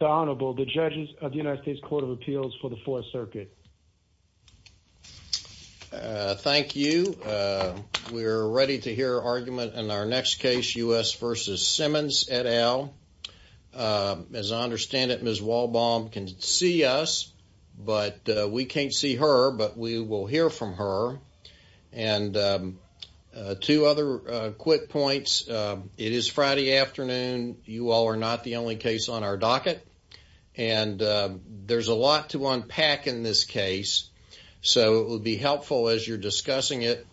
Honorable the judges of the United States Court of Appeals for the Fourth Circuit. Thank you we're ready to hear argument in our next case U.S. v. Simmons et al. As I understand it Ms. Walbaum can see us but we can't see her but we will hear from her and two other quick points it is Friday afternoon you all are not the only case on our docket and there's a lot to unpack in this case so it would be helpful as you're discussing it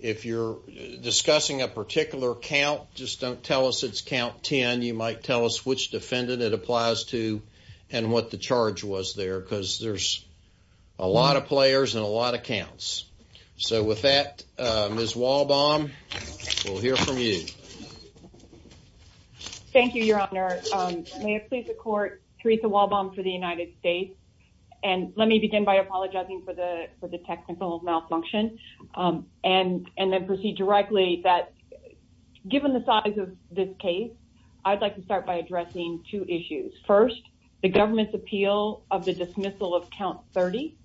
if you're discussing a particular count just don't tell us it's count 10 you might tell us which defendant it applies to and what the charge was there because there's a lot of players and a lot of counts so with that Ms. Walbaum we'll hear from you thank you your honor may it please the court Theresa Walbaum for the United States and let me begin by apologizing for the for the technical malfunction and and then proceed directly that given the size of this case I'd like to start by addressing two issues first the government's appeal of the dismissal of count 30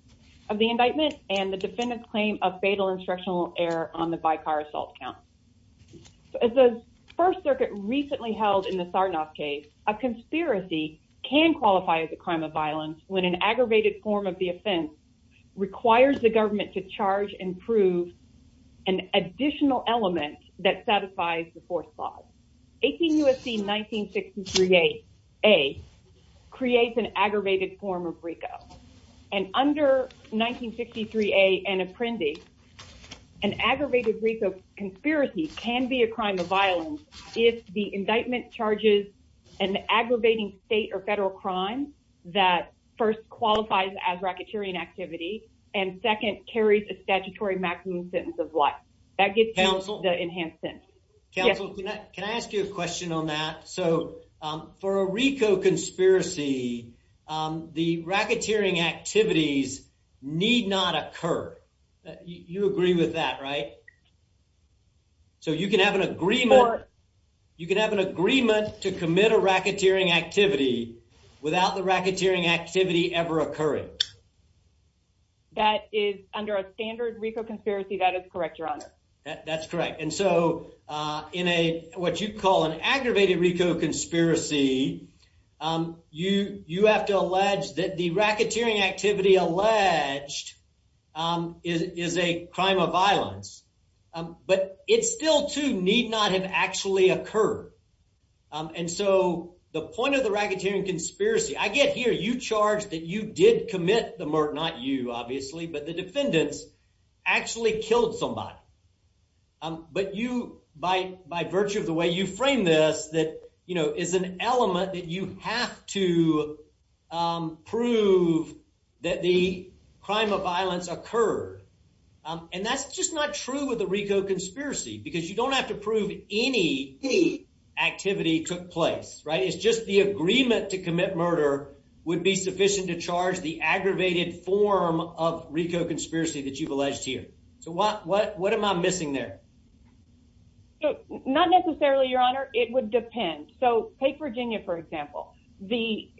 of the indictment and the defendant's claim of fatal instructional error on the by car assault count as the first circuit recently held in the Sarnoff case a conspiracy can qualify as a crime of violence when an aggravated form of the offense requires the government to charge and prove an additional element that satisfies the fourth law 18 USC 1963 a a creates an aggravated form of RICO and under 1963 a an apprentice an aggravated RICO conspiracy can be a crime of violence if the indictment charges an aggravating state or federal crime that first qualifies as racketeering activity and second carries a statutory maximum sentence of life that gets counsel the enhanced sentence can I ask you a question on that so for a RICO conspiracy the racketeering activities need not occur you agree with that right so you can have an agreement you can have an agreement to commit a racketeering activity without the racketeering activity ever occurring that is under a standard RICO conspiracy that is correct your honor that's correct and so in a what you call an aggravated RICO conspiracy you you have to allege that the racketeering activity alleged is a crime of violence but it's still to need not have actually occurred and so the point of the racketeering conspiracy I get here you charge that you did commit the murk not you obviously but the defendants actually killed somebody but you by by virtue of the way you frame this that you know is an element that you have to prove that the crime of violence occurred and that's just not true with the RICO conspiracy because you don't have to prove any activity took place right it's just the agreement to commit murder would be sufficient to charge the aggravated form of RICO conspiracy that you've alleged here so what what what am I missing there not necessarily your it would depend so take Virginia for example the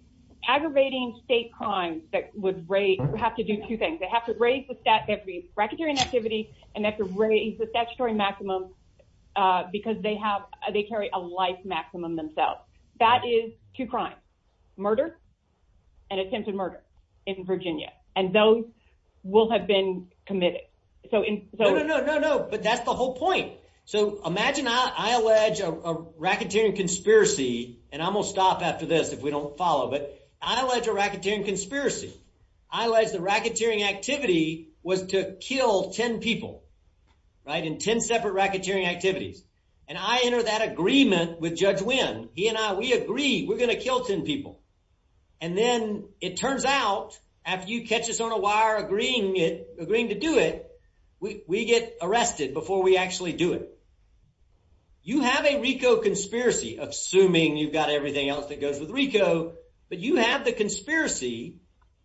aggravating state crimes that would rate have to do two things they have to raise the stat every racketeering activity and that's a raise the statutory maximum because they have they carry a life maximum themselves that is to crime murder and attempted murder in Virginia and those will have been committed so in no no but that's the whole point so imagine I allege a racketeering conspiracy and I will stop after this if we don't follow but I like a racketeering conspiracy I like the racketeering activity was to kill ten people right in ten separate racketeering activities and I enter that agreement with judge when he and I we agree we're gonna kill ten people and then it turns out after you catch us on a wire agreeing it agreeing to do it we get arrested before we actually do it you have a RICO conspiracy assuming you've got everything else that goes with RICO but you have the conspiracy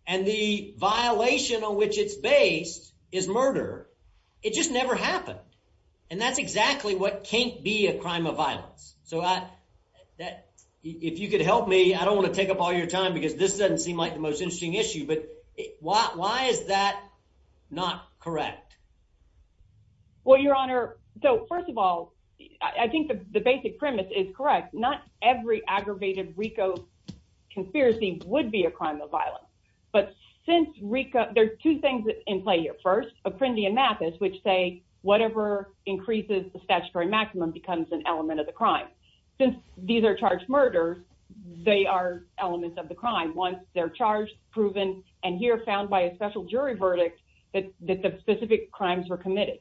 and the violation on which its base is murder it just never happened and that's exactly what can't be a crime of violence so I that if you could help me I don't want to take up all your time because this not correct well your honor so first of all I think the basic premise is correct not every aggravated RICO conspiracy would be a crime of violence but since RICO there's two things in play here first a friend Ian Mathis which say whatever increases the statutory maximum becomes an element of the crime since these are charged murders they are elements of the crime once they're proven and here found by a special jury verdict that the specific crimes were committed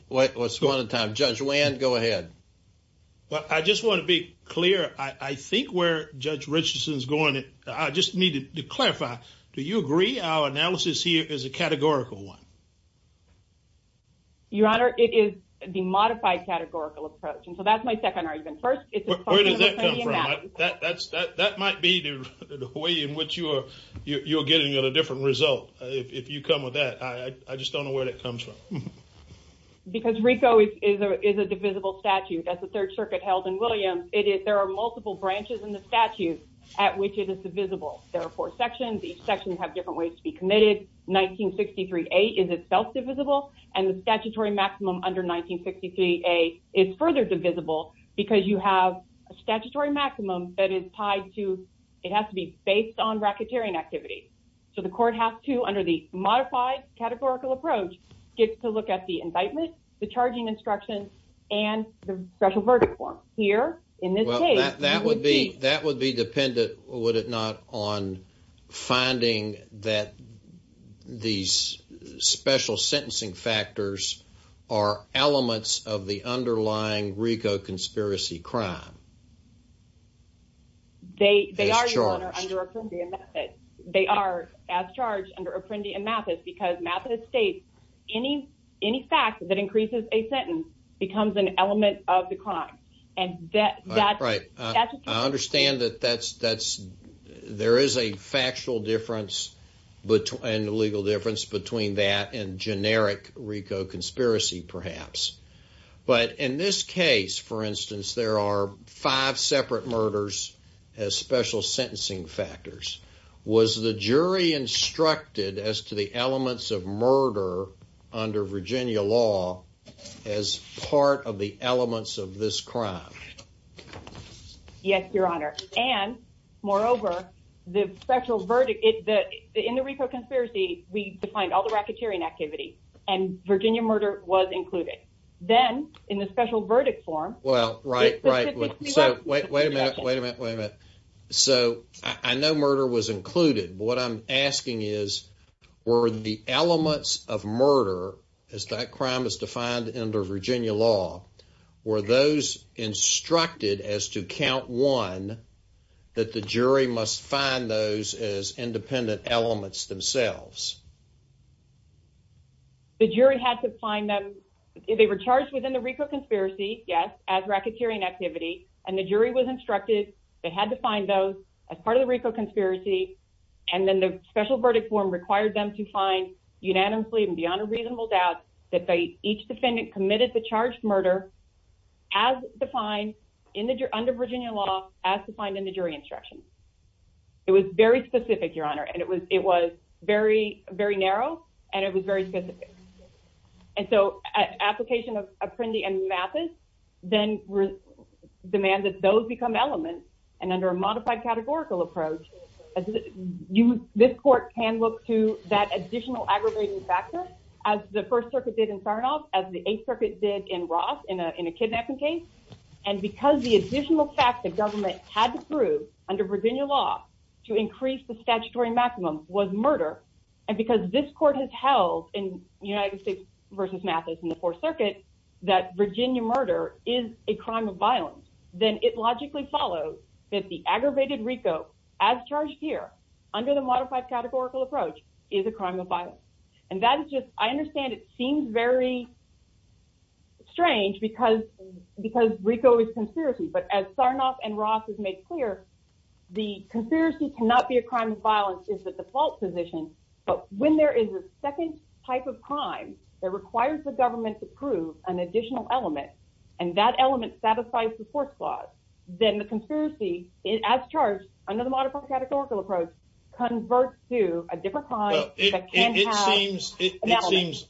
what's going on time judge when go ahead well I just want to be clear I think where judge Richardson's going it I just needed to clarify do you agree our analysis here is a categorical one your honor it is the modified categorical approach and so that's my second argument first that might be the way in which you are you're getting at a different result if you come with that I just don't know where that comes from because RICO is a divisible statute as the Third Circuit held in Williams it is there are multiple branches in the statute at which it is divisible there are four sections each section have different ways to be committed 1963 a is itself divisible and statutory maximum under 1963 a is further divisible because you have a statutory maximum that is tied to it has to be based on racketeering activity so the court has to under the modified categorical approach gets to look at the indictment the charging instruction and the special verdict form here in this case that would be that would be dependent would it not on finding that these special sentencing factors are elements of the underlying RICO conspiracy crime they they are sure they are as charged under Apprendi and Mathis because Mathis states any any fact that increases a sentence becomes an element of the crime and that's right I understand that that's that's there is a factual difference between the legal difference between that and generic RICO conspiracy perhaps but in this case for instance there are five separate murders as special sentencing factors was the jury instructed as to the elements of murder under Virginia law as part of the elements of this crime yes your honor and moreover the special verdict in the RICO conspiracy we find all the racketeering activity and Virginia murder was included then in the special verdict form well right right so wait a minute wait a minute wait a minute so I know murder was included what I'm asking is were the elements of murder as that that the jury must find those as independent elements themselves the jury had to find them if they were charged within the RICO conspiracy yes as racketeering activity and the jury was instructed they had to find those as part of the RICO conspiracy and then the special verdict form required them to find unanimously and beyond a reasonable doubt that they each defendant committed the charged murder as defined in the under Virginia law as to find in the jury instruction it was very specific your honor and it was it was very very narrow and it was very specific and so application of Apprendi and Mathis then demanded those become elements and under a modified categorical approach as you this court can look to that additional aggravating factor as the First Circuit did in Sarnoff as the Eighth Circuit did in Roth in a kidnapping case and because the additional fact that government had to prove under Virginia law to increase the statutory maximum was murder and because this court has held in United States versus Mathis in the Fourth Circuit that Virginia murder is a crime of violence then it logically follows that the aggravated RICO as charged here under the modified categorical approach is a crime of very strange because because RICO is conspiracy but as Sarnoff and Roth has made clear the conspiracy cannot be a crime of violence is the default position but when there is a second type of crime that requires the government to prove an additional element and that element satisfies the fourth clause then the conspiracy it as charged under the modified categorical approach converts to a different crime that can have an element. It seems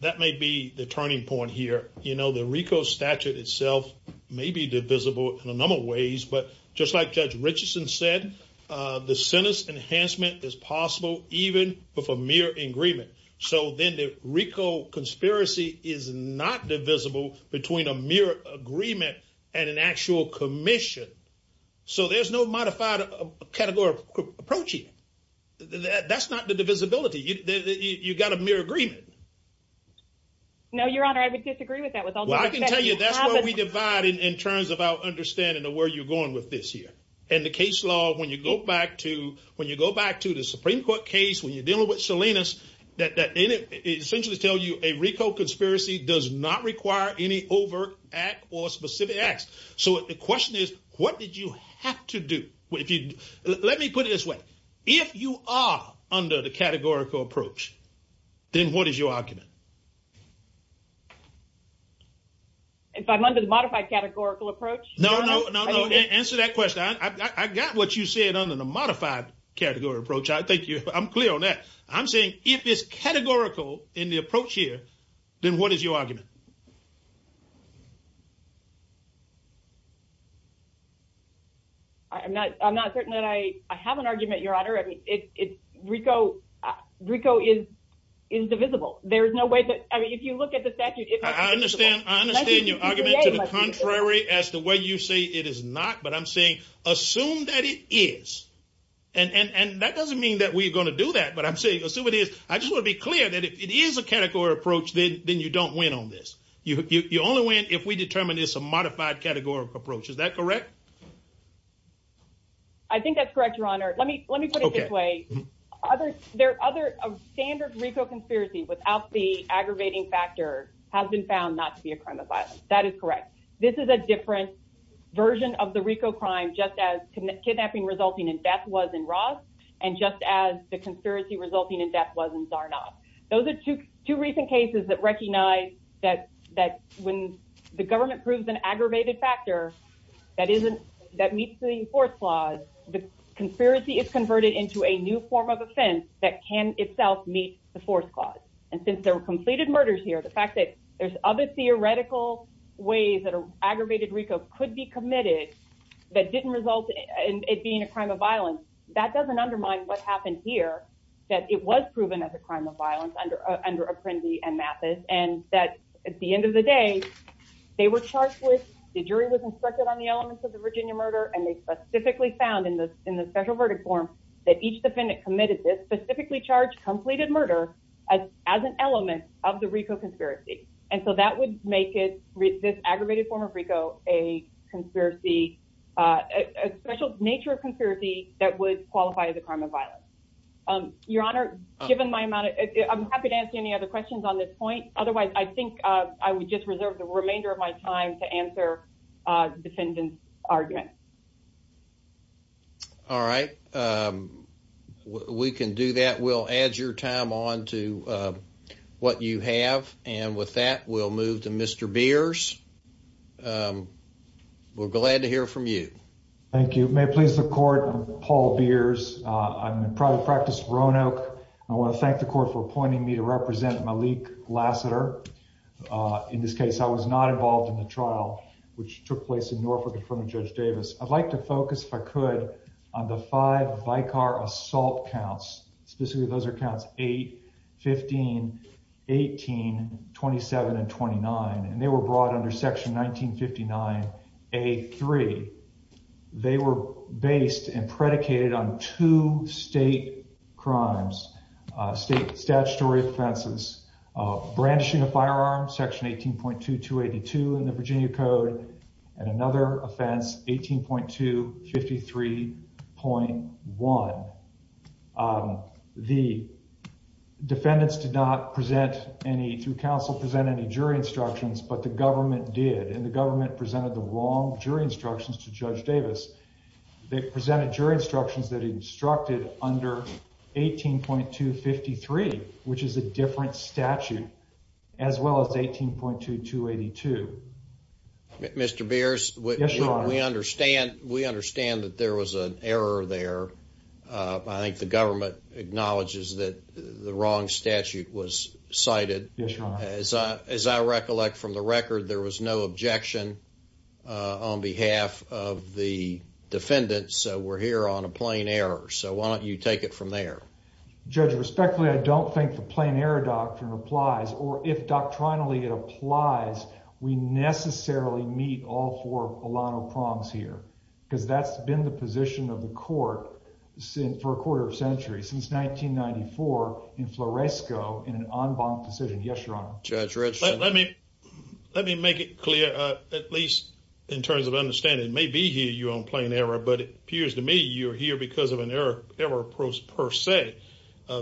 that may be the turning point here you know the RICO statute itself may be divisible in a number of ways but just like Judge Richardson said the sentence enhancement is possible even with a mere agreement so then the RICO conspiracy is not divisible between a mere agreement and an actual commission so there's no modified categorical approach here. That's not the divisibility you've got a mere agreement. No your honor I would disagree with that. Well I can tell you that's what we divide in terms of our understanding of where you're going with this here and the case law when you go back to when you go back to the Supreme Court case when you're dealing with Salinas that essentially tell you a RICO conspiracy does not require any overt act or specific acts. So the question is what did you have to do? Let me put it this way if you are under the categorical approach then what is your argument? If I'm under the modified categorical approach? No no answer that question I got what you said under the modified categorical approach I think I'm clear on that. I'm saying if it's categorical in the I'm not I'm not certain that I I have an argument your honor I mean it RICO RICO is indivisible there is no way that I mean if you look at the statute. I understand I understand your argument to the contrary as the way you say it is not but I'm saying assume that it is and and and that doesn't mean that we are going to do that but I'm saying assume it is I just want to be clear that if it is a if we determine it's a modified categorical approach is that correct? I think that's correct your honor let me let me put it this way other there are other standard RICO conspiracy without the aggravating factor has been found not to be a crime of violence. That is correct this is a different version of the RICO crime just as kidnapping resulting in death was in Ross and just as the conspiracy resulting in death was in Zarnoff. Those are two two recent cases that recognize that that when the government proves an aggravated factor that isn't that meets the force clause the conspiracy is converted into a new form of offense that can itself meet the force clause and since there were completed murders here the fact that there's other theoretical ways that aggravated RICO could be committed that didn't result in it being a crime of violence that doesn't undermine what happened here that it was proven as a and that at the end of the day they were charged with the jury was instructed on the elements of the Virginia murder and they specifically found in the in the special verdict form that each defendant committed this specifically charged completed murder as an element of the RICO conspiracy and so that would make it read this aggravated form of RICO a conspiracy a special nature of conspiracy that would qualify as a crime of violence your honor given my amount of any other questions on this point otherwise I think I would just reserve the remainder of my time to answer defendants argument all right we can do that we'll add your time on to what you have and with that we'll move to mr. beers we're glad to hear from you thank you may please the court Paul beers I'm the court for appointing me to represent Malik Lassiter in this case I was not involved in the trial which took place in Norfolk in front of judge Davis I'd like to focus if I could on the five by car assault counts specifically those are counts 8 15 18 27 and 29 and they were brought under section 1959 a3 they were based and predicated on two state crimes state statutory offenses brandishing a firearm section 18.2 282 in the Virginia Code and another offense 18.2 53.1 the defendants did not present any through counsel present any jury instructions but the government did and the government presented the wrong jury instructions to judge Davis they presented jury instructions that he instructed under 18.2 53 which is a different statute as well as 18.2 282 mr. beers we understand we understand that there was an error there I think the government acknowledges that the wrong statute was cited as I recollect from the record there was no objection on behalf of the defendants so we're here on a plain error so why don't you take it from there judge respectfully I don't think the plain error doctrine applies or if doctrinally it applies we necessarily meet all for a lot of prongs here because that's been the position of the court since for a quarter of centuries since 1994 in Floresco in an let me make it clear at least in terms of understanding may be here you on plain error but it appears to me you're here because of an error ever approach per se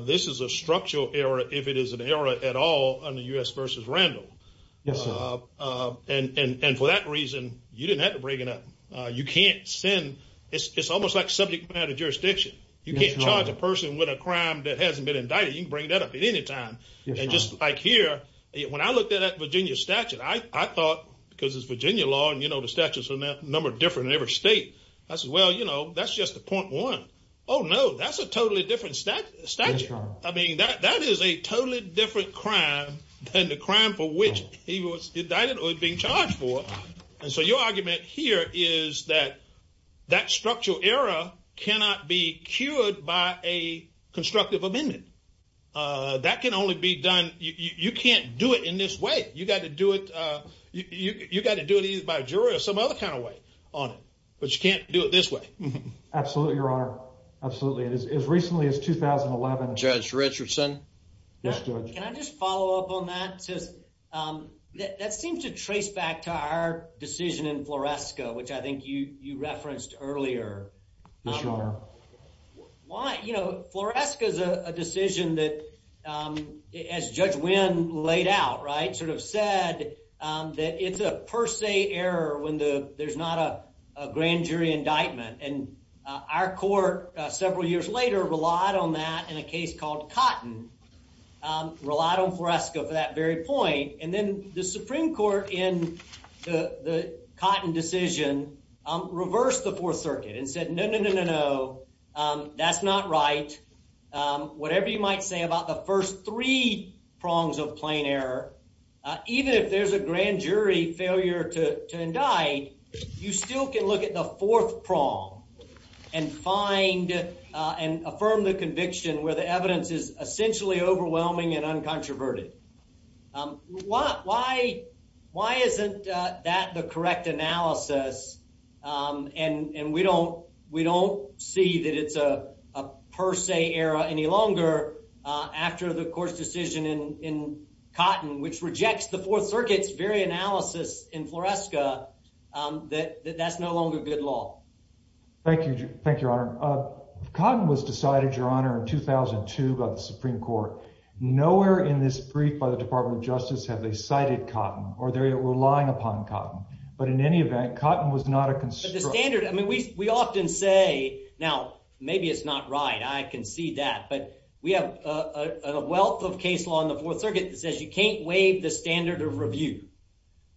this is a structural error if it is an error at all on the u.s. versus Randall yes and and for that reason you didn't have to bring it up you can't send it's almost like subject matter jurisdiction you can't charge a person with a crime that hasn't been indicted you can bring that up at any time and just like here when I looked at Virginia statute I thought because it's Virginia law and you know the statutes are not number different in every state that's well you know that's just the point one oh no that's a totally different statute I mean that that is a totally different crime than the crime for which he was indicted or being charged for and so your argument here is that that structural error cannot be cured by a constructive amendment that can only be done you can't do it in this way you got to do it you got to do it either by a jury or some other kind of way on it but you can't do it this way absolutely your honor absolutely it is as recently as 2011 judge Richardson that seems to trace back to our decision in Floresco which I think you you as judge win laid out right sort of said that it's a per se error when the there's not a grand jury indictment and our court several years later relied on that in a case called cotton relied on Floresco for that very point and then the Supreme Court in the cotton decision reversed the Fourth Circuit and said no that's not right whatever you might say about the first three prongs of plain error even if there's a grand jury failure to indict you still can look at the fourth prong and find and affirm the conviction where the evidence is essentially overwhelming and uncontroverted why why isn't that the see that it's a per se era any longer after the court's decision in cotton which rejects the Fourth Circuit's very analysis in Floresco that that's no longer good law thank you thank your honor cotton was decided your honor in 2002 by the Supreme Court nowhere in this brief by the Department of Justice have they cited cotton or they're relying upon cotton but in any event cotton was not a concern standard I mean we we often say now maybe it's not right I can see that but we have a wealth of case law in the Fourth Circuit that says you can't waive the standard of review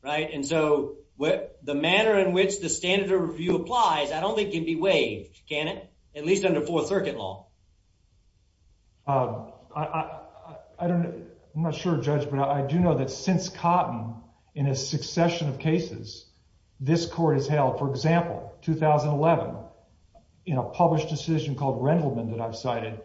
right and so what the manner in which the standard of review applies I don't think can be waived can it at least under Fourth Circuit law I don't know I'm not sure judgment I do know that since cotton in a succession of cases this court is held for example 2011 in a published decision called Rendleman that I've cited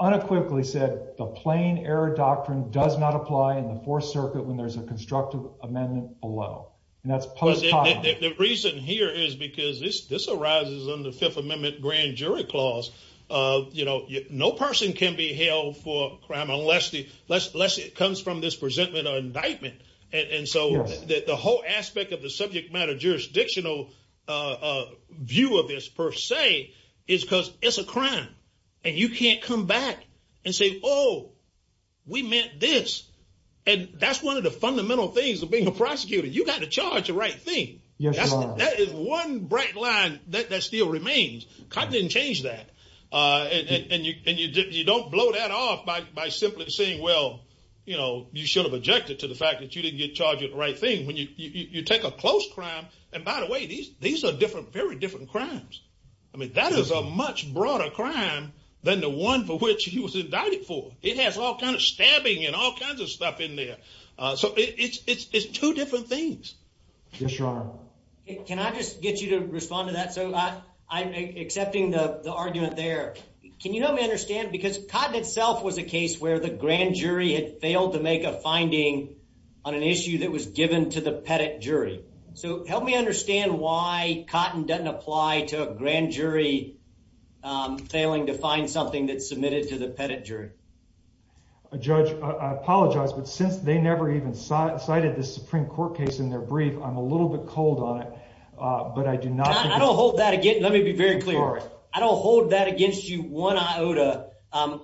unequivocally said the plain error doctrine does not apply in the Fourth Circuit when there's a constructive amendment below and that's positive the reason here is because this this arises on the Fifth Amendment grand jury clause you know no person can be held for crime unless the less unless it comes from this presentment or indictment and so that the whole aspect of the subject matter jurisdictional view of this per se is because it's a crime and you can't come back and say oh we meant this and that's one of the fundamental things of being a prosecutor you got to charge the right thing yes that is one bright line that still remains cotton didn't change that and you don't blow that off by simply saying well you know you should have objected to the fact that you didn't get charged at the right thing when you take a close crime and by the way these these are different very different crimes I mean that is a much broader crime than the one for which he was indicted for it has all kind of stabbing and all kinds of stuff in there so it's it's two different things can I just get you to respond to that so I'm accepting the argument there can you help me understand because cotton itself was a case where the grand jury had failed to make a finding on an issue that was given to the pettit jury so help me understand why cotton doesn't apply to a grand jury failing to find something that's submitted to the pettit jury a judge I apologize but since they ever even cited the Supreme Court case in their brief I'm a little bit cold on it but I do not I don't hold that again let me be very clear I don't hold that against you one iota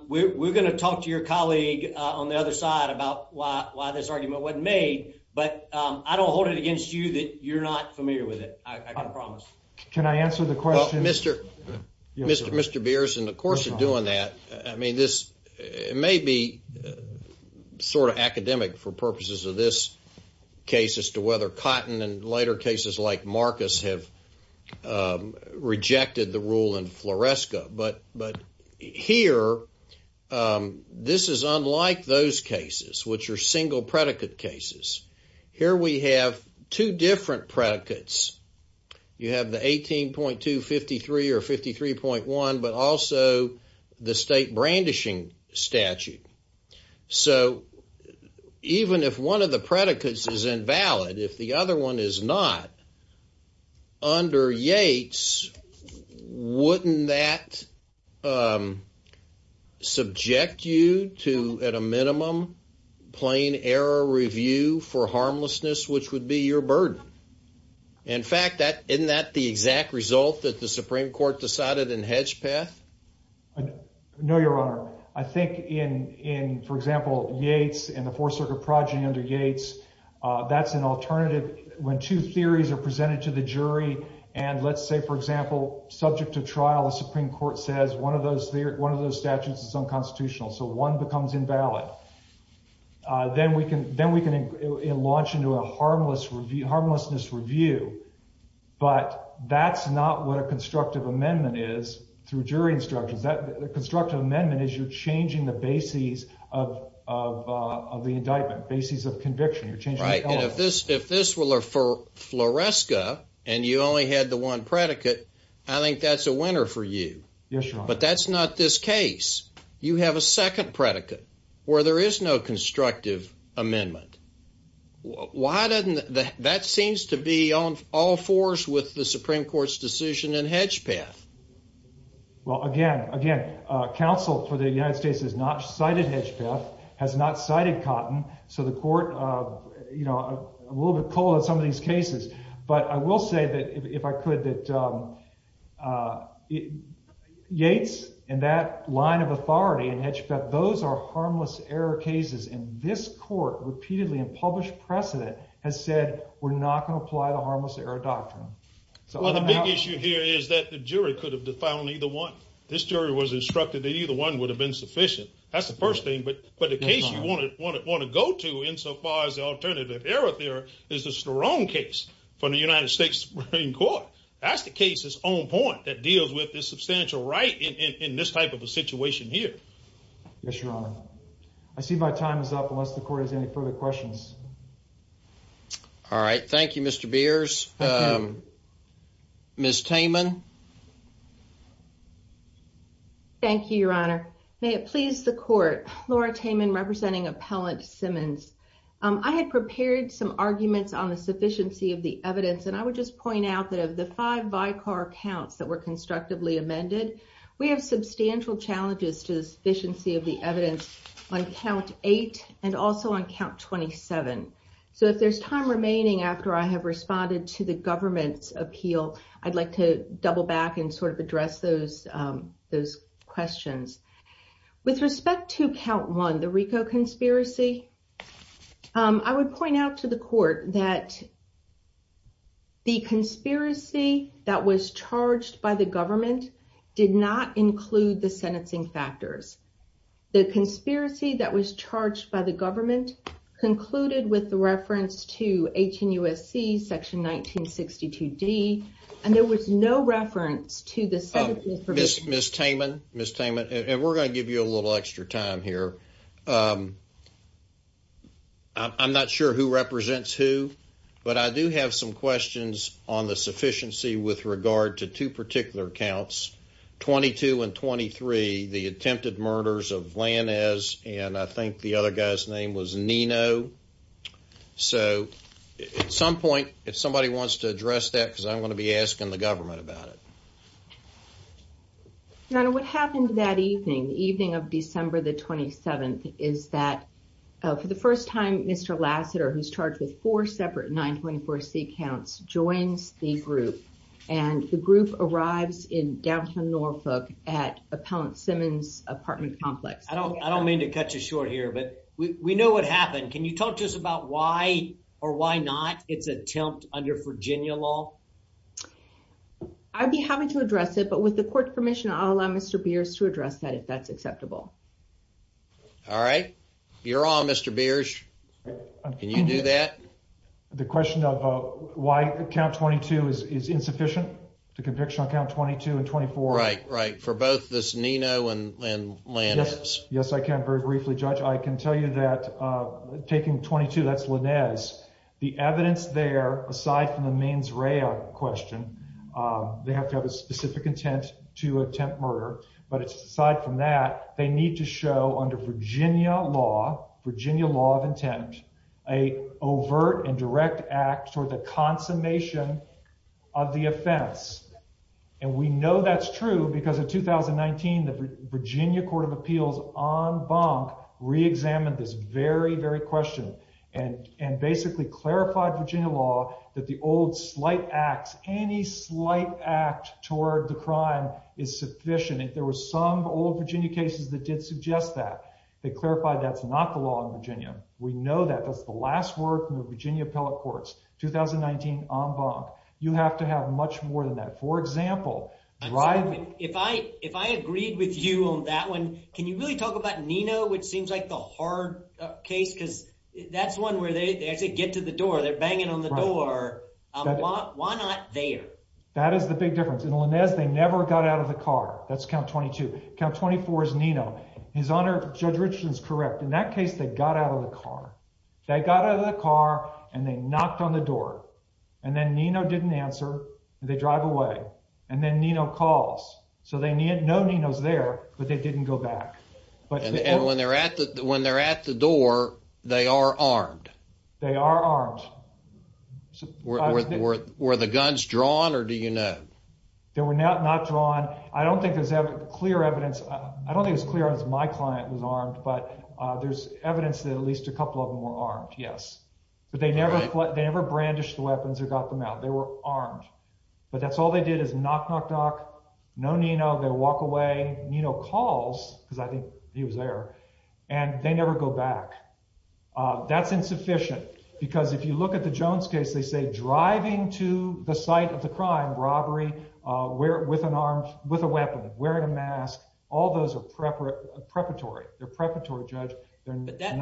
we're gonna talk to your colleague on the other side about why this argument wasn't made but I don't hold it against you that you're not familiar with it can I answer the question mr. mr. mr. beers and of course doing that I mean this it may be sort of academic for purposes of this case as to whether cotton and later cases like Marcus have rejected the rule in floresca but but here this is unlike those cases which are single predicate cases here we have two different predicates you have the eighteen point two fifty three or fifty three point one but also the state brandishing statute so even if one of the predicates is invalid if the other one is not under Yates wouldn't that subject you to at a minimum plain error review for the Supreme Court decided in Hedgepeth I know your honor I think in in for example Yates and the Fourth Circuit project under Yates that's an alternative when two theories are presented to the jury and let's say for example subject to trial the Supreme Court says one of those there one of those statutes is unconstitutional so one becomes invalid then we can then we can launch into a harmless review harmlessness review but that's not what a constructive amendment is through jury instructions that the constructive amendment is you're changing the bases of the indictment bases of conviction you're changing right and if this if this will are for floresca and you only had the one predicate I think that's a winner for you yes but that's not this case you have a second predicate where there is no constructive amendment why doesn't that seems to be on all fours with the Supreme Court's decision in Hedgepeth well again again counsel for the United States is not cited Hedgepeth has not cited cotton so the court you know a little bit cold in some of these line of authority and Hedgepeth those are harmless error cases in this court repeatedly and published precedent has said we're not going to apply the harmless error doctrine so the big issue here is that the jury could have defiled either one this jury was instructed that either one would have been sufficient that's the first thing but but the case you want to want to go to in so far as the alternative error there is the strong case from the United States Supreme Court that's the case's own point that deals with this situation here I see my time is up unless the court has any further questions all right thank you mr. beers miss Taman thank you your honor may it please the court Laura Taman representing appellant Simmons I had prepared some arguments on the sufficiency of the evidence and I would just point out that of the five by car counts that were constructively amended we have substantial challenges to the sufficiency of the evidence on count 8 and also on count 27 so if there's time remaining after I have responded to the government's appeal I'd like to double back and sort of address those those questions with respect to count one the Rico conspiracy I would point out to the did not include the sentencing factors the conspiracy that was charged by the government concluded with the reference to 18 USC section 1962 D and there was no reference to this miss miss Taman miss Taman and we're going to give you a little extra time here I'm not sure who represents who but I do have some questions on the sufficiency with regard to two particular counts 22 and 23 the attempted murders of land as and I think the other guy's name was Nino so at some point if somebody wants to address that because I'm going to be asking the government about it now what happened that evening evening of December the 27th is that for the first time mr. Lassiter who's charged with four separate 924 C counts joins the group and the group arrives in downtown Norfolk at appellant Simmons apartment complex I don't I don't mean to cut you short here but we know what happened can you talk to us about why or why not it's attempt under Virginia law I'd be happy to address it but with the court permission I'll allow mr. beers to address that if that's acceptable all right you're on mr. beers can you do that the question of why the count 22 is insufficient to conviction on count 22 and 24 right right for both this Nino and when yes yes I can't very briefly judge I can tell you that taking 22 that's Linnaeus the evidence there aside from the mains rail question they have to have a specific intent to attempt murder but it's aside from that they need to show under Virginia law Virginia law of intent a overt and direct act or the consummation of the offense and we know that's true because of 2019 the Virginia Court of Appeals on bonk reexamined this very very question and and basically clarified Virginia law that the old slight acts any slight act toward the crime is sufficient if there was some old Virginia cases that did suggest that they clarified that's not the law in Virginia we know that that's the last word from the Virginia appellate courts 2019 on bonk you have to have much more than that for example right if I if I agreed with you on that one can you really talk about Nino which seems like the hard case because that's one where they actually get to the door they're banging on the door why not there that is the big difference in Linnaeus they never got out of the car that's count 22 count 24 is Nino his honor judge Richardson's correct in that case they got out of the car they got out of the car and they knocked on the door and then Nino didn't answer they drive away and then Nino calls so they need no Nino's there but they didn't go back but and when they're at that when they're at the door they are armed they are armed were the guns drawn or do you know there were not not drawn I don't think there's ever clear evidence I don't think it's clear as my client was armed but there's evidence that at least a couple of more aren't yes but they never thought they ever brandished the weapons or got them out they were armed but that's all they did is knock knock knock no Nino they that's insufficient because if you look at the Jones case they say driving to the site of the crime robbery where with an arm with a weapon wearing a mask all those are preparatory they're preparatory judge I get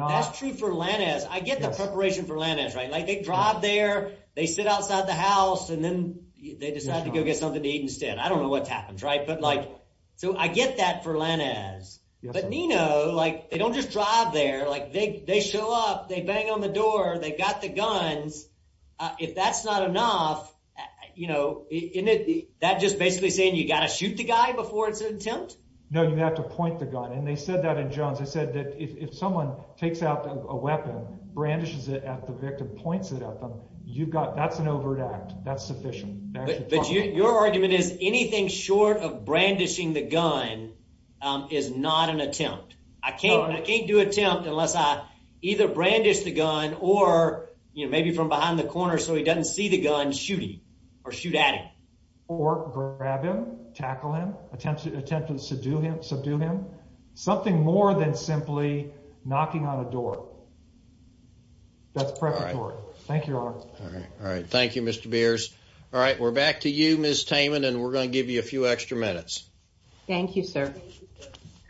the preparation for Lana's right like they drive there they sit outside the house and then they decide to go get something to eat instead I don't know what's happens right but like so I get that for Lana's but Nino like they don't just drive there like they they show up they bang on the door they got the guns if that's not enough you know in it that just basically saying you got to shoot the guy before it's an attempt no you have to point the gun and they said that in Jones I said that if someone takes out a weapon brandishes it at the victim points it at them you've got that's an overt act that's sufficient but your argument is anything short of brandishing the gun is not an attempt I can't do attempt unless I either brandish the gun or you know maybe from behind the corner so he doesn't see the gun shooting or shoot at him or grab him tackle him attempt to attempt to subdue him subdue him something more than simply knocking on a door that's perfect thank you all right thank you mr. beers all right we're back to you miss Taman and we're going to give you a few extra minutes thank you sir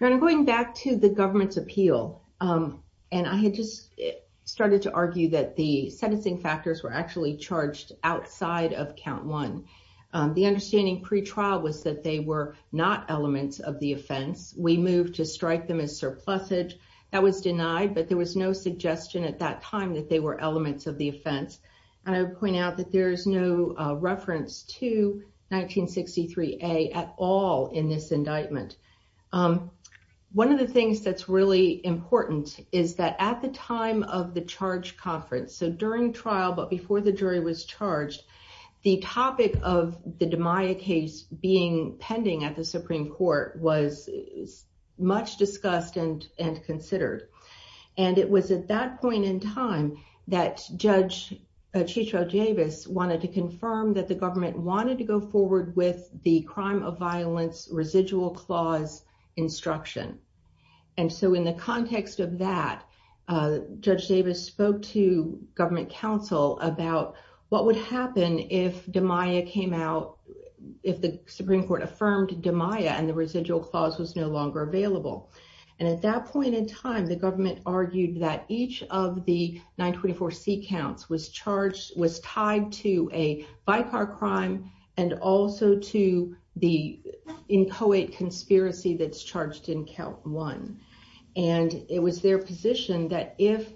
I'm going back to the government's appeal and I had just started to argue that the sentencing factors were actually charged outside of count one the understanding pretrial was that they were not elements of the offense we moved to strike them as surplusage that was denied but there was no suggestion at that time that they were elements of the offense and I would point out that there is no reference to 1963 a at all in this indictment one of the things that's really important is that at the time of the charge conference so during trial but before the jury was charged the topic of the DiMaio case being pending at the Supreme Court was much discussed and and considered and it was at that point in time that judge Chico Davis wanted to confirm that the government wanted to go forward with the crime of violence residual clause instruction and so in the context of that judge Davis spoke to government counsel about what would happen if DiMaio came out if the Supreme Court affirmed DiMaio and the residual clause was no longer available and at that point in time the government argued that each of the 924 C counts was charged was tied to a by car crime and also to the inchoate conspiracy that's charged in count one and it was their position that if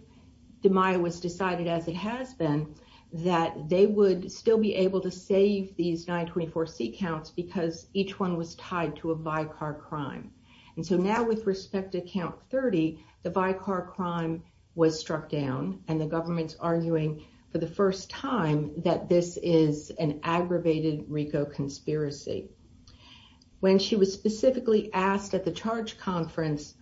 DiMaio was decided as it has been that they would still be able to save these 924 C counts because each one was tied to a by car crime and so now with respect to count 30 the by car crime was struck down and the government's arguing for the first time that this is an aggravated Rico conspiracy when she was specifically asked at the charge conference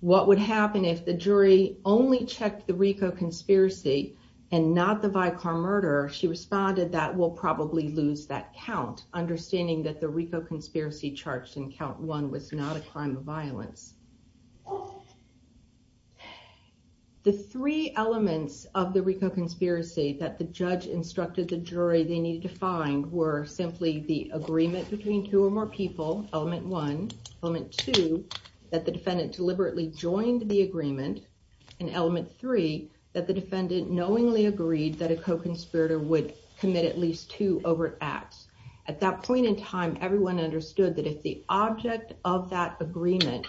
what would happen if the jury only checked the Rico conspiracy and not the by car murder she responded that will probably lose that count understanding that the Rico conspiracy charged in count one was not a crime of violence the three elements of the Rico conspiracy that the judge instructed the jury they needed to find were simply the agreement between two or more people element one element two that the defendant deliberately joined the agreement and element three that the defendant knowingly agreed that a co-conspirator would commit at least two acts at that point in time everyone understood that if the object of that agreement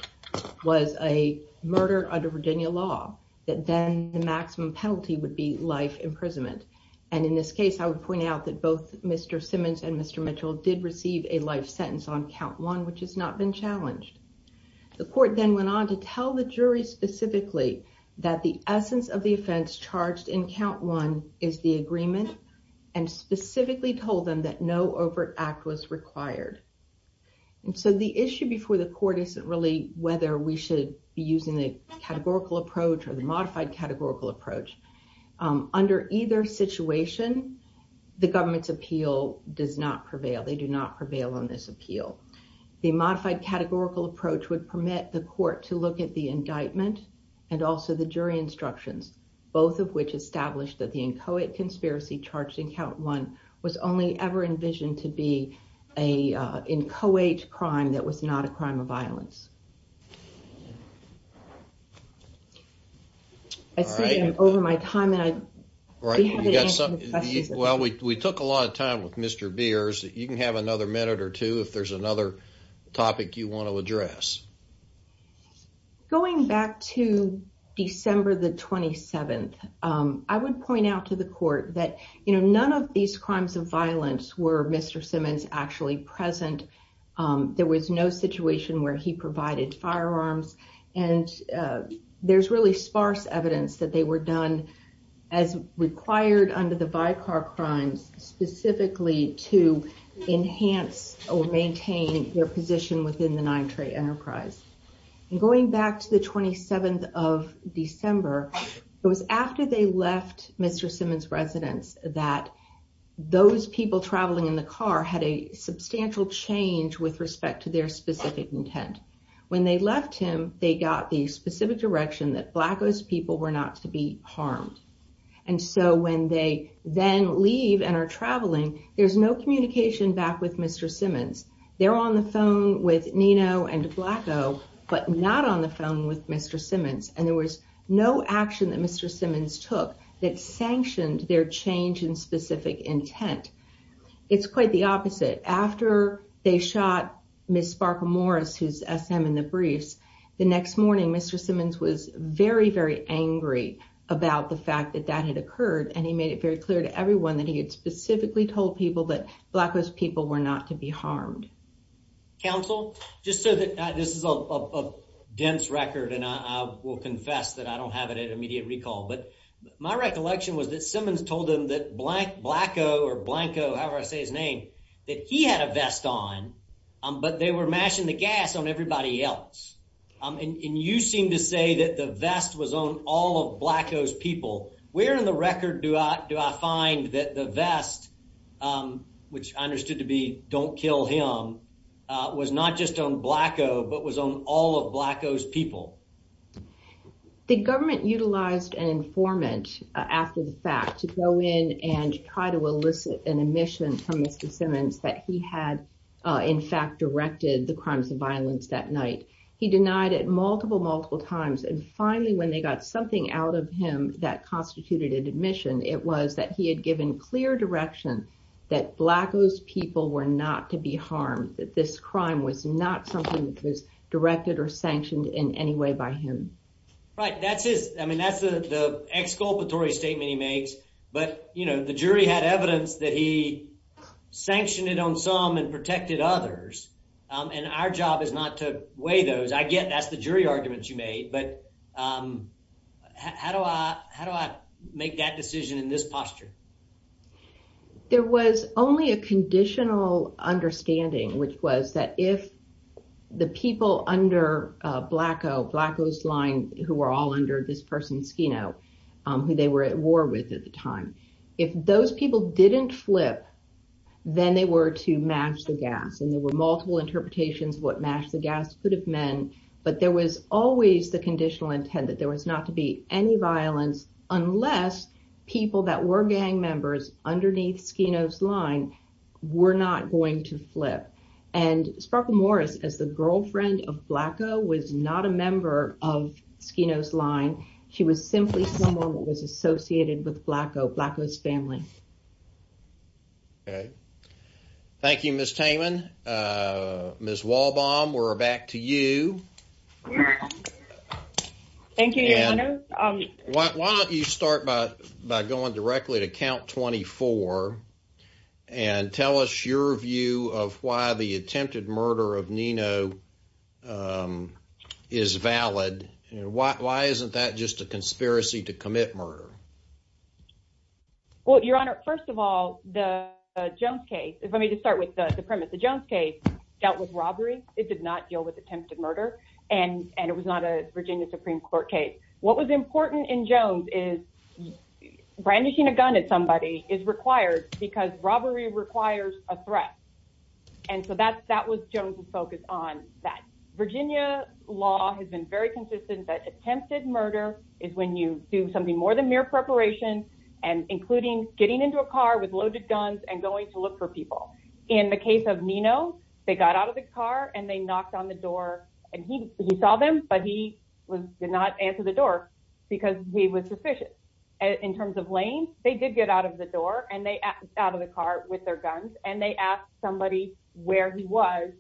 was a murder under Virginia law that then the maximum penalty would be life imprisonment and in this case I would point out that both mr. Simmons and mr. Mitchell did receive a life sentence on count one which has not been challenged the court then went on to tell the jury specifically that the essence of the offense charged in count one is the agreement and specifically told them that no overt act was required and so the issue before the court isn't really whether we should be using the categorical approach or the modified categorical approach under either situation the government's appeal does not prevail they do not prevail on this appeal the modified categorical approach would permit the court to look at the indictment and also the jury instructions both of which established that the inchoate conspiracy charged in only ever envisioned to be a inchoate crime that was not a crime of violence I think I'm over my time and I well we took a lot of time with mr. beers that you can have another minute or two if there's another topic you want to address going back to December the 27th I would point out to the court that you there was no situation where he provided firearms and there's really sparse evidence that they were done as required under the by car crimes specifically to enhance or maintain their position within the nine-trade enterprise and going back to the 27th of December it was after they left mr. Simmons residence that those people traveling in the car had a substantial change with respect to their specific intent when they left him they got the specific direction that black those people were not to be harmed and so when they then leave and are traveling there's no communication back with mr. Simmons they're on the phone with Nino and black oh but not on the phone with mr. Simmons took that sanctioned their change in specific intent it's quite the opposite after they shot miss Sparkle Morris who's SM in the briefs the next morning mr. Simmons was very very angry about the fact that that had occurred and he made it very clear to everyone that he had specifically told people that black those people were not to be harmed counsel just so that this is a dense record and I will confess that I don't have it at immediate recall but my recollection was that Simmons told him that blank black Oh or Blanco however I say his name that he had a vest on but they were mashing the gas on everybody else and you seem to say that the vest was on all of black those people we're in the record do I do I find that the vest which I understood to be don't kill him was not just on black Oh but was on all of black Oh's people the government utilized an informant after the fact to go in and try to elicit an admission from mr. Simmons that he had in fact directed the crimes of violence that night he denied it multiple multiple times and finally when they got something out of him that constituted admission it was that he had given clear direction that black those people were not to be harmed that this crime was not something that was directed or sanctioned in any way by him right that's his I mean that's the exculpatory statement he makes but you know the jury had evidence that he sanctioned it on some and protected others and our job is not to weigh those I get that's the jury arguments you made but how do I how do I make that decision in this posture there was only a conditional understanding which was that if the people under black Oh black those line who are all under this person's you know who they were at war with at the time if those people didn't flip then they were to match the gas and there were multiple interpretations what match the gas could have men but there was always the conditional intent that there was not to be any violence unless people that were gang members underneath skinos line we're not going to flip and Sparkle Morris as the girlfriend of black Oh was not a member of skinos line she was simply someone that was associated with black Oh blackness family okay Thank You Miss Ms. Walbaum we're back to you why don't you start by by going directly to count 24 and tell us your view of why the attempted murder of Nino is valid and why isn't that just a conspiracy to commit murder well your honor first of the premise the Jones case dealt with robbery it did not deal with attempted murder and and it was not a Virginia Supreme Court case what was important in Jones is brandishing a gun at somebody is required because robbery requires a threat and so that's that was Jones's focus on that Virginia law has been very consistent that attempted murder is when you do something more than mere preparation and including getting into a car with loaded guns and going to look for people in the case of Nino they got out of the car and they knocked on the door and he saw them but he was did not answer the door because he was sufficient in terms of Lane they did get out of the door and they out of the car with their guns and they asked somebody where he was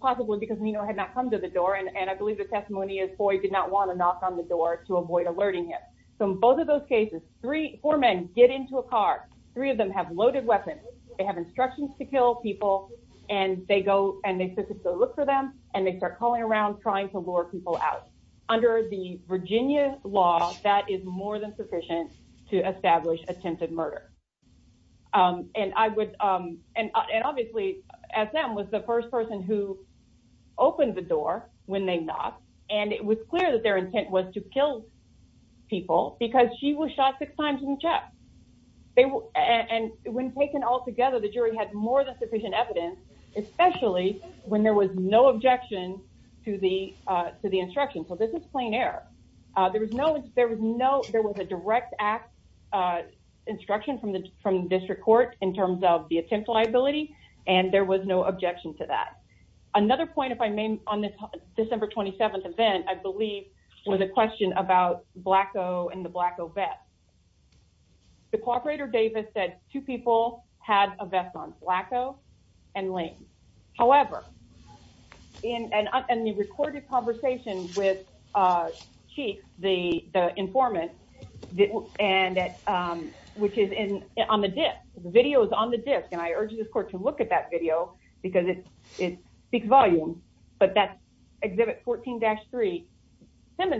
possibly because Nino had not come to the door and and I believe the testimony is boy did not want to knock on the door to avoid alerting him so in both of those cases three four men get into a car three of them have loaded weapons they have instructions to kill people and they go and they look for them and they start calling around trying to lure people out under the Virginia law that is more than sufficient to establish attempted murder and I would and obviously as them was the first person who opened the door when they knocked and it was clear that their intent was to kill people because she was shot six times in the chest they were and when taken all together the jury had more than sufficient evidence especially when there was no objection to the to the instruction so this is plain air there was no there was no there was a direct act instruction from the from the district court in terms of the attempt liability and there was no objection to that another point if I may on this December 27th event I believe was a question about black Oh and the black Oh bet the cooperator Davis said two people had a vest on black Oh and Lane however in an unrecorded conversation with chief the informant didn't and at which is in on the disk the video is on the disk and I urge this court to look at that video because it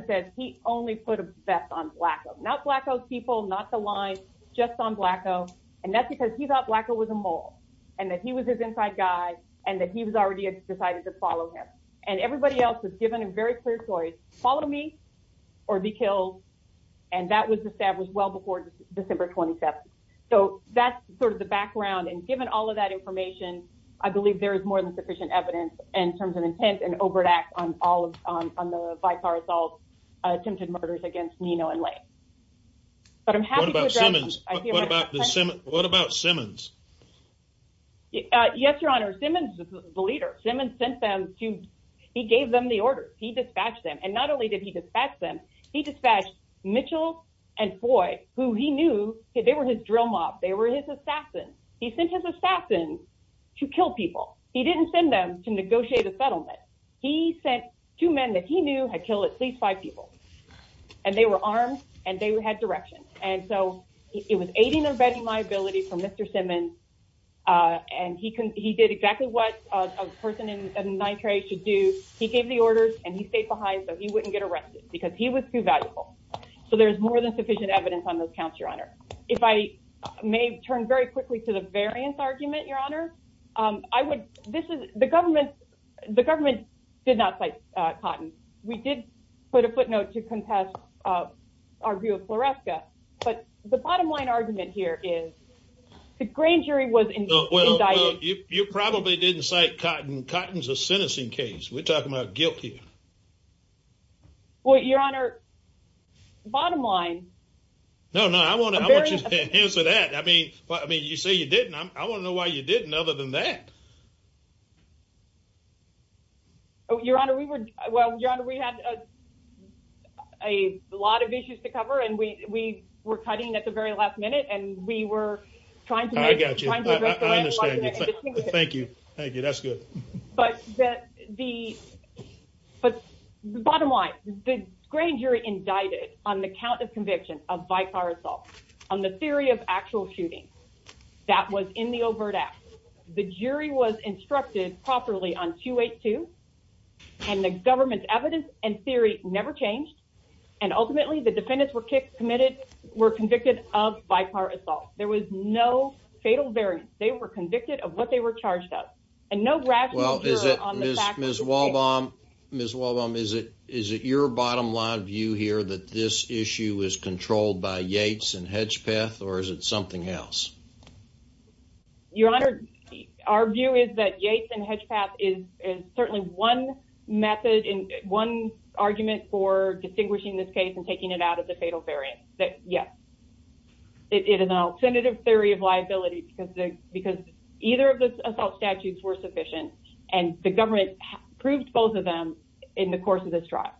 says he only put a vest on black not black those people not the line just on black Oh and that's because he thought black Oh was a mole and that he was his inside guy and that he was already decided to follow him and everybody else was given a very clear choice follow me or be killed and that was established well before December 27th so that's sort of the background and given all of that information I believe there is more than sufficient evidence in terms of intent an overt act on all of on the by car assault attempted murders against Nino and late but I'm happy about Simmons what about Simmons yes your honor Simmons the leader Simmons sent them to he gave them the order he dispatched them and not only did he dispatch them he dispatched Mitchell and boy who he knew they were his drill mob they were his assassin he sent his assassin to kill people he didn't send them to negotiate a settlement he sent two men that he knew had killed at least five people and they were armed and they were head direction and so it was aiding or abetting my ability for mr. Simmons and he can he did exactly what a person in nitrate should do he gave the orders and he stayed behind so he wouldn't get arrested because he was too valuable so there's more than sufficient evidence on those counts your honor if I may turn very quickly to the variance argument your honor I would this is the government the government did not fight cotton we did put a footnote to contest our view of floresca but the bottom line argument here is the grand jury was in well you probably didn't cite cotton cotton's a sentencing case we're talking guilty well your honor bottom line no no I want to answer that I mean but I mean you say you didn't I want to know why you didn't other than that oh your honor we were well we had a lot of issues to cover and we were cutting at the very last minute and we were trying to thank you thank you that's good but the but the bottom line the grand jury indicted on the count of conviction of by car assault on the theory of actual shooting that was in the overt act the jury was instructed properly on 282 and the government's evidence and theory never changed and ultimately the defendants were kicked committed were convicted of by car assault there was no fatal variance they were convicted of what they were charged up and no rational is it is it your bottom line view here that this issue is controlled by Yates and Hedgepeth or is it something else your honor our view is that Yates and Hedgepeth is certainly one method in one argument for distinguishing this case and taking it out of the fatal variance that yes it is an alternative theory of liability because they because either of the assault statutes were sufficient and the government proved both of them in the course of this trial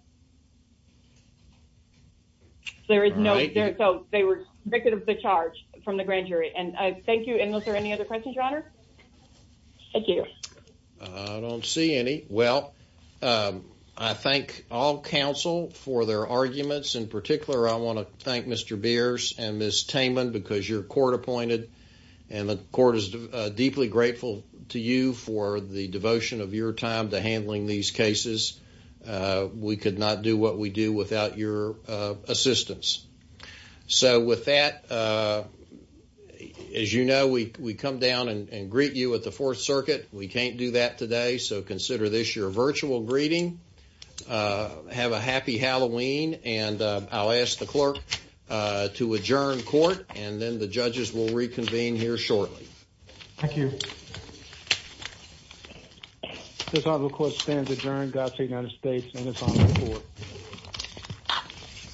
there is no there so they were convicted of the charge from the grand jury and I thank you and was there any other questions your honor thank you I don't see any well I thank all counsel for their arguments in particular I want to thank mr. beers and this time and because your court appointed and the court is deeply grateful to you for the devotion of your time to handling these cases we could not do what we do without your assistance so with that as you know we come down and greet you at the Fourth Circuit we can't do that today so consider this your virtual greeting have a happy Halloween and I'll ask the clerk to adjourn court and then the judges will reconvene here shortly thank you this on the court stands adjourned God save United States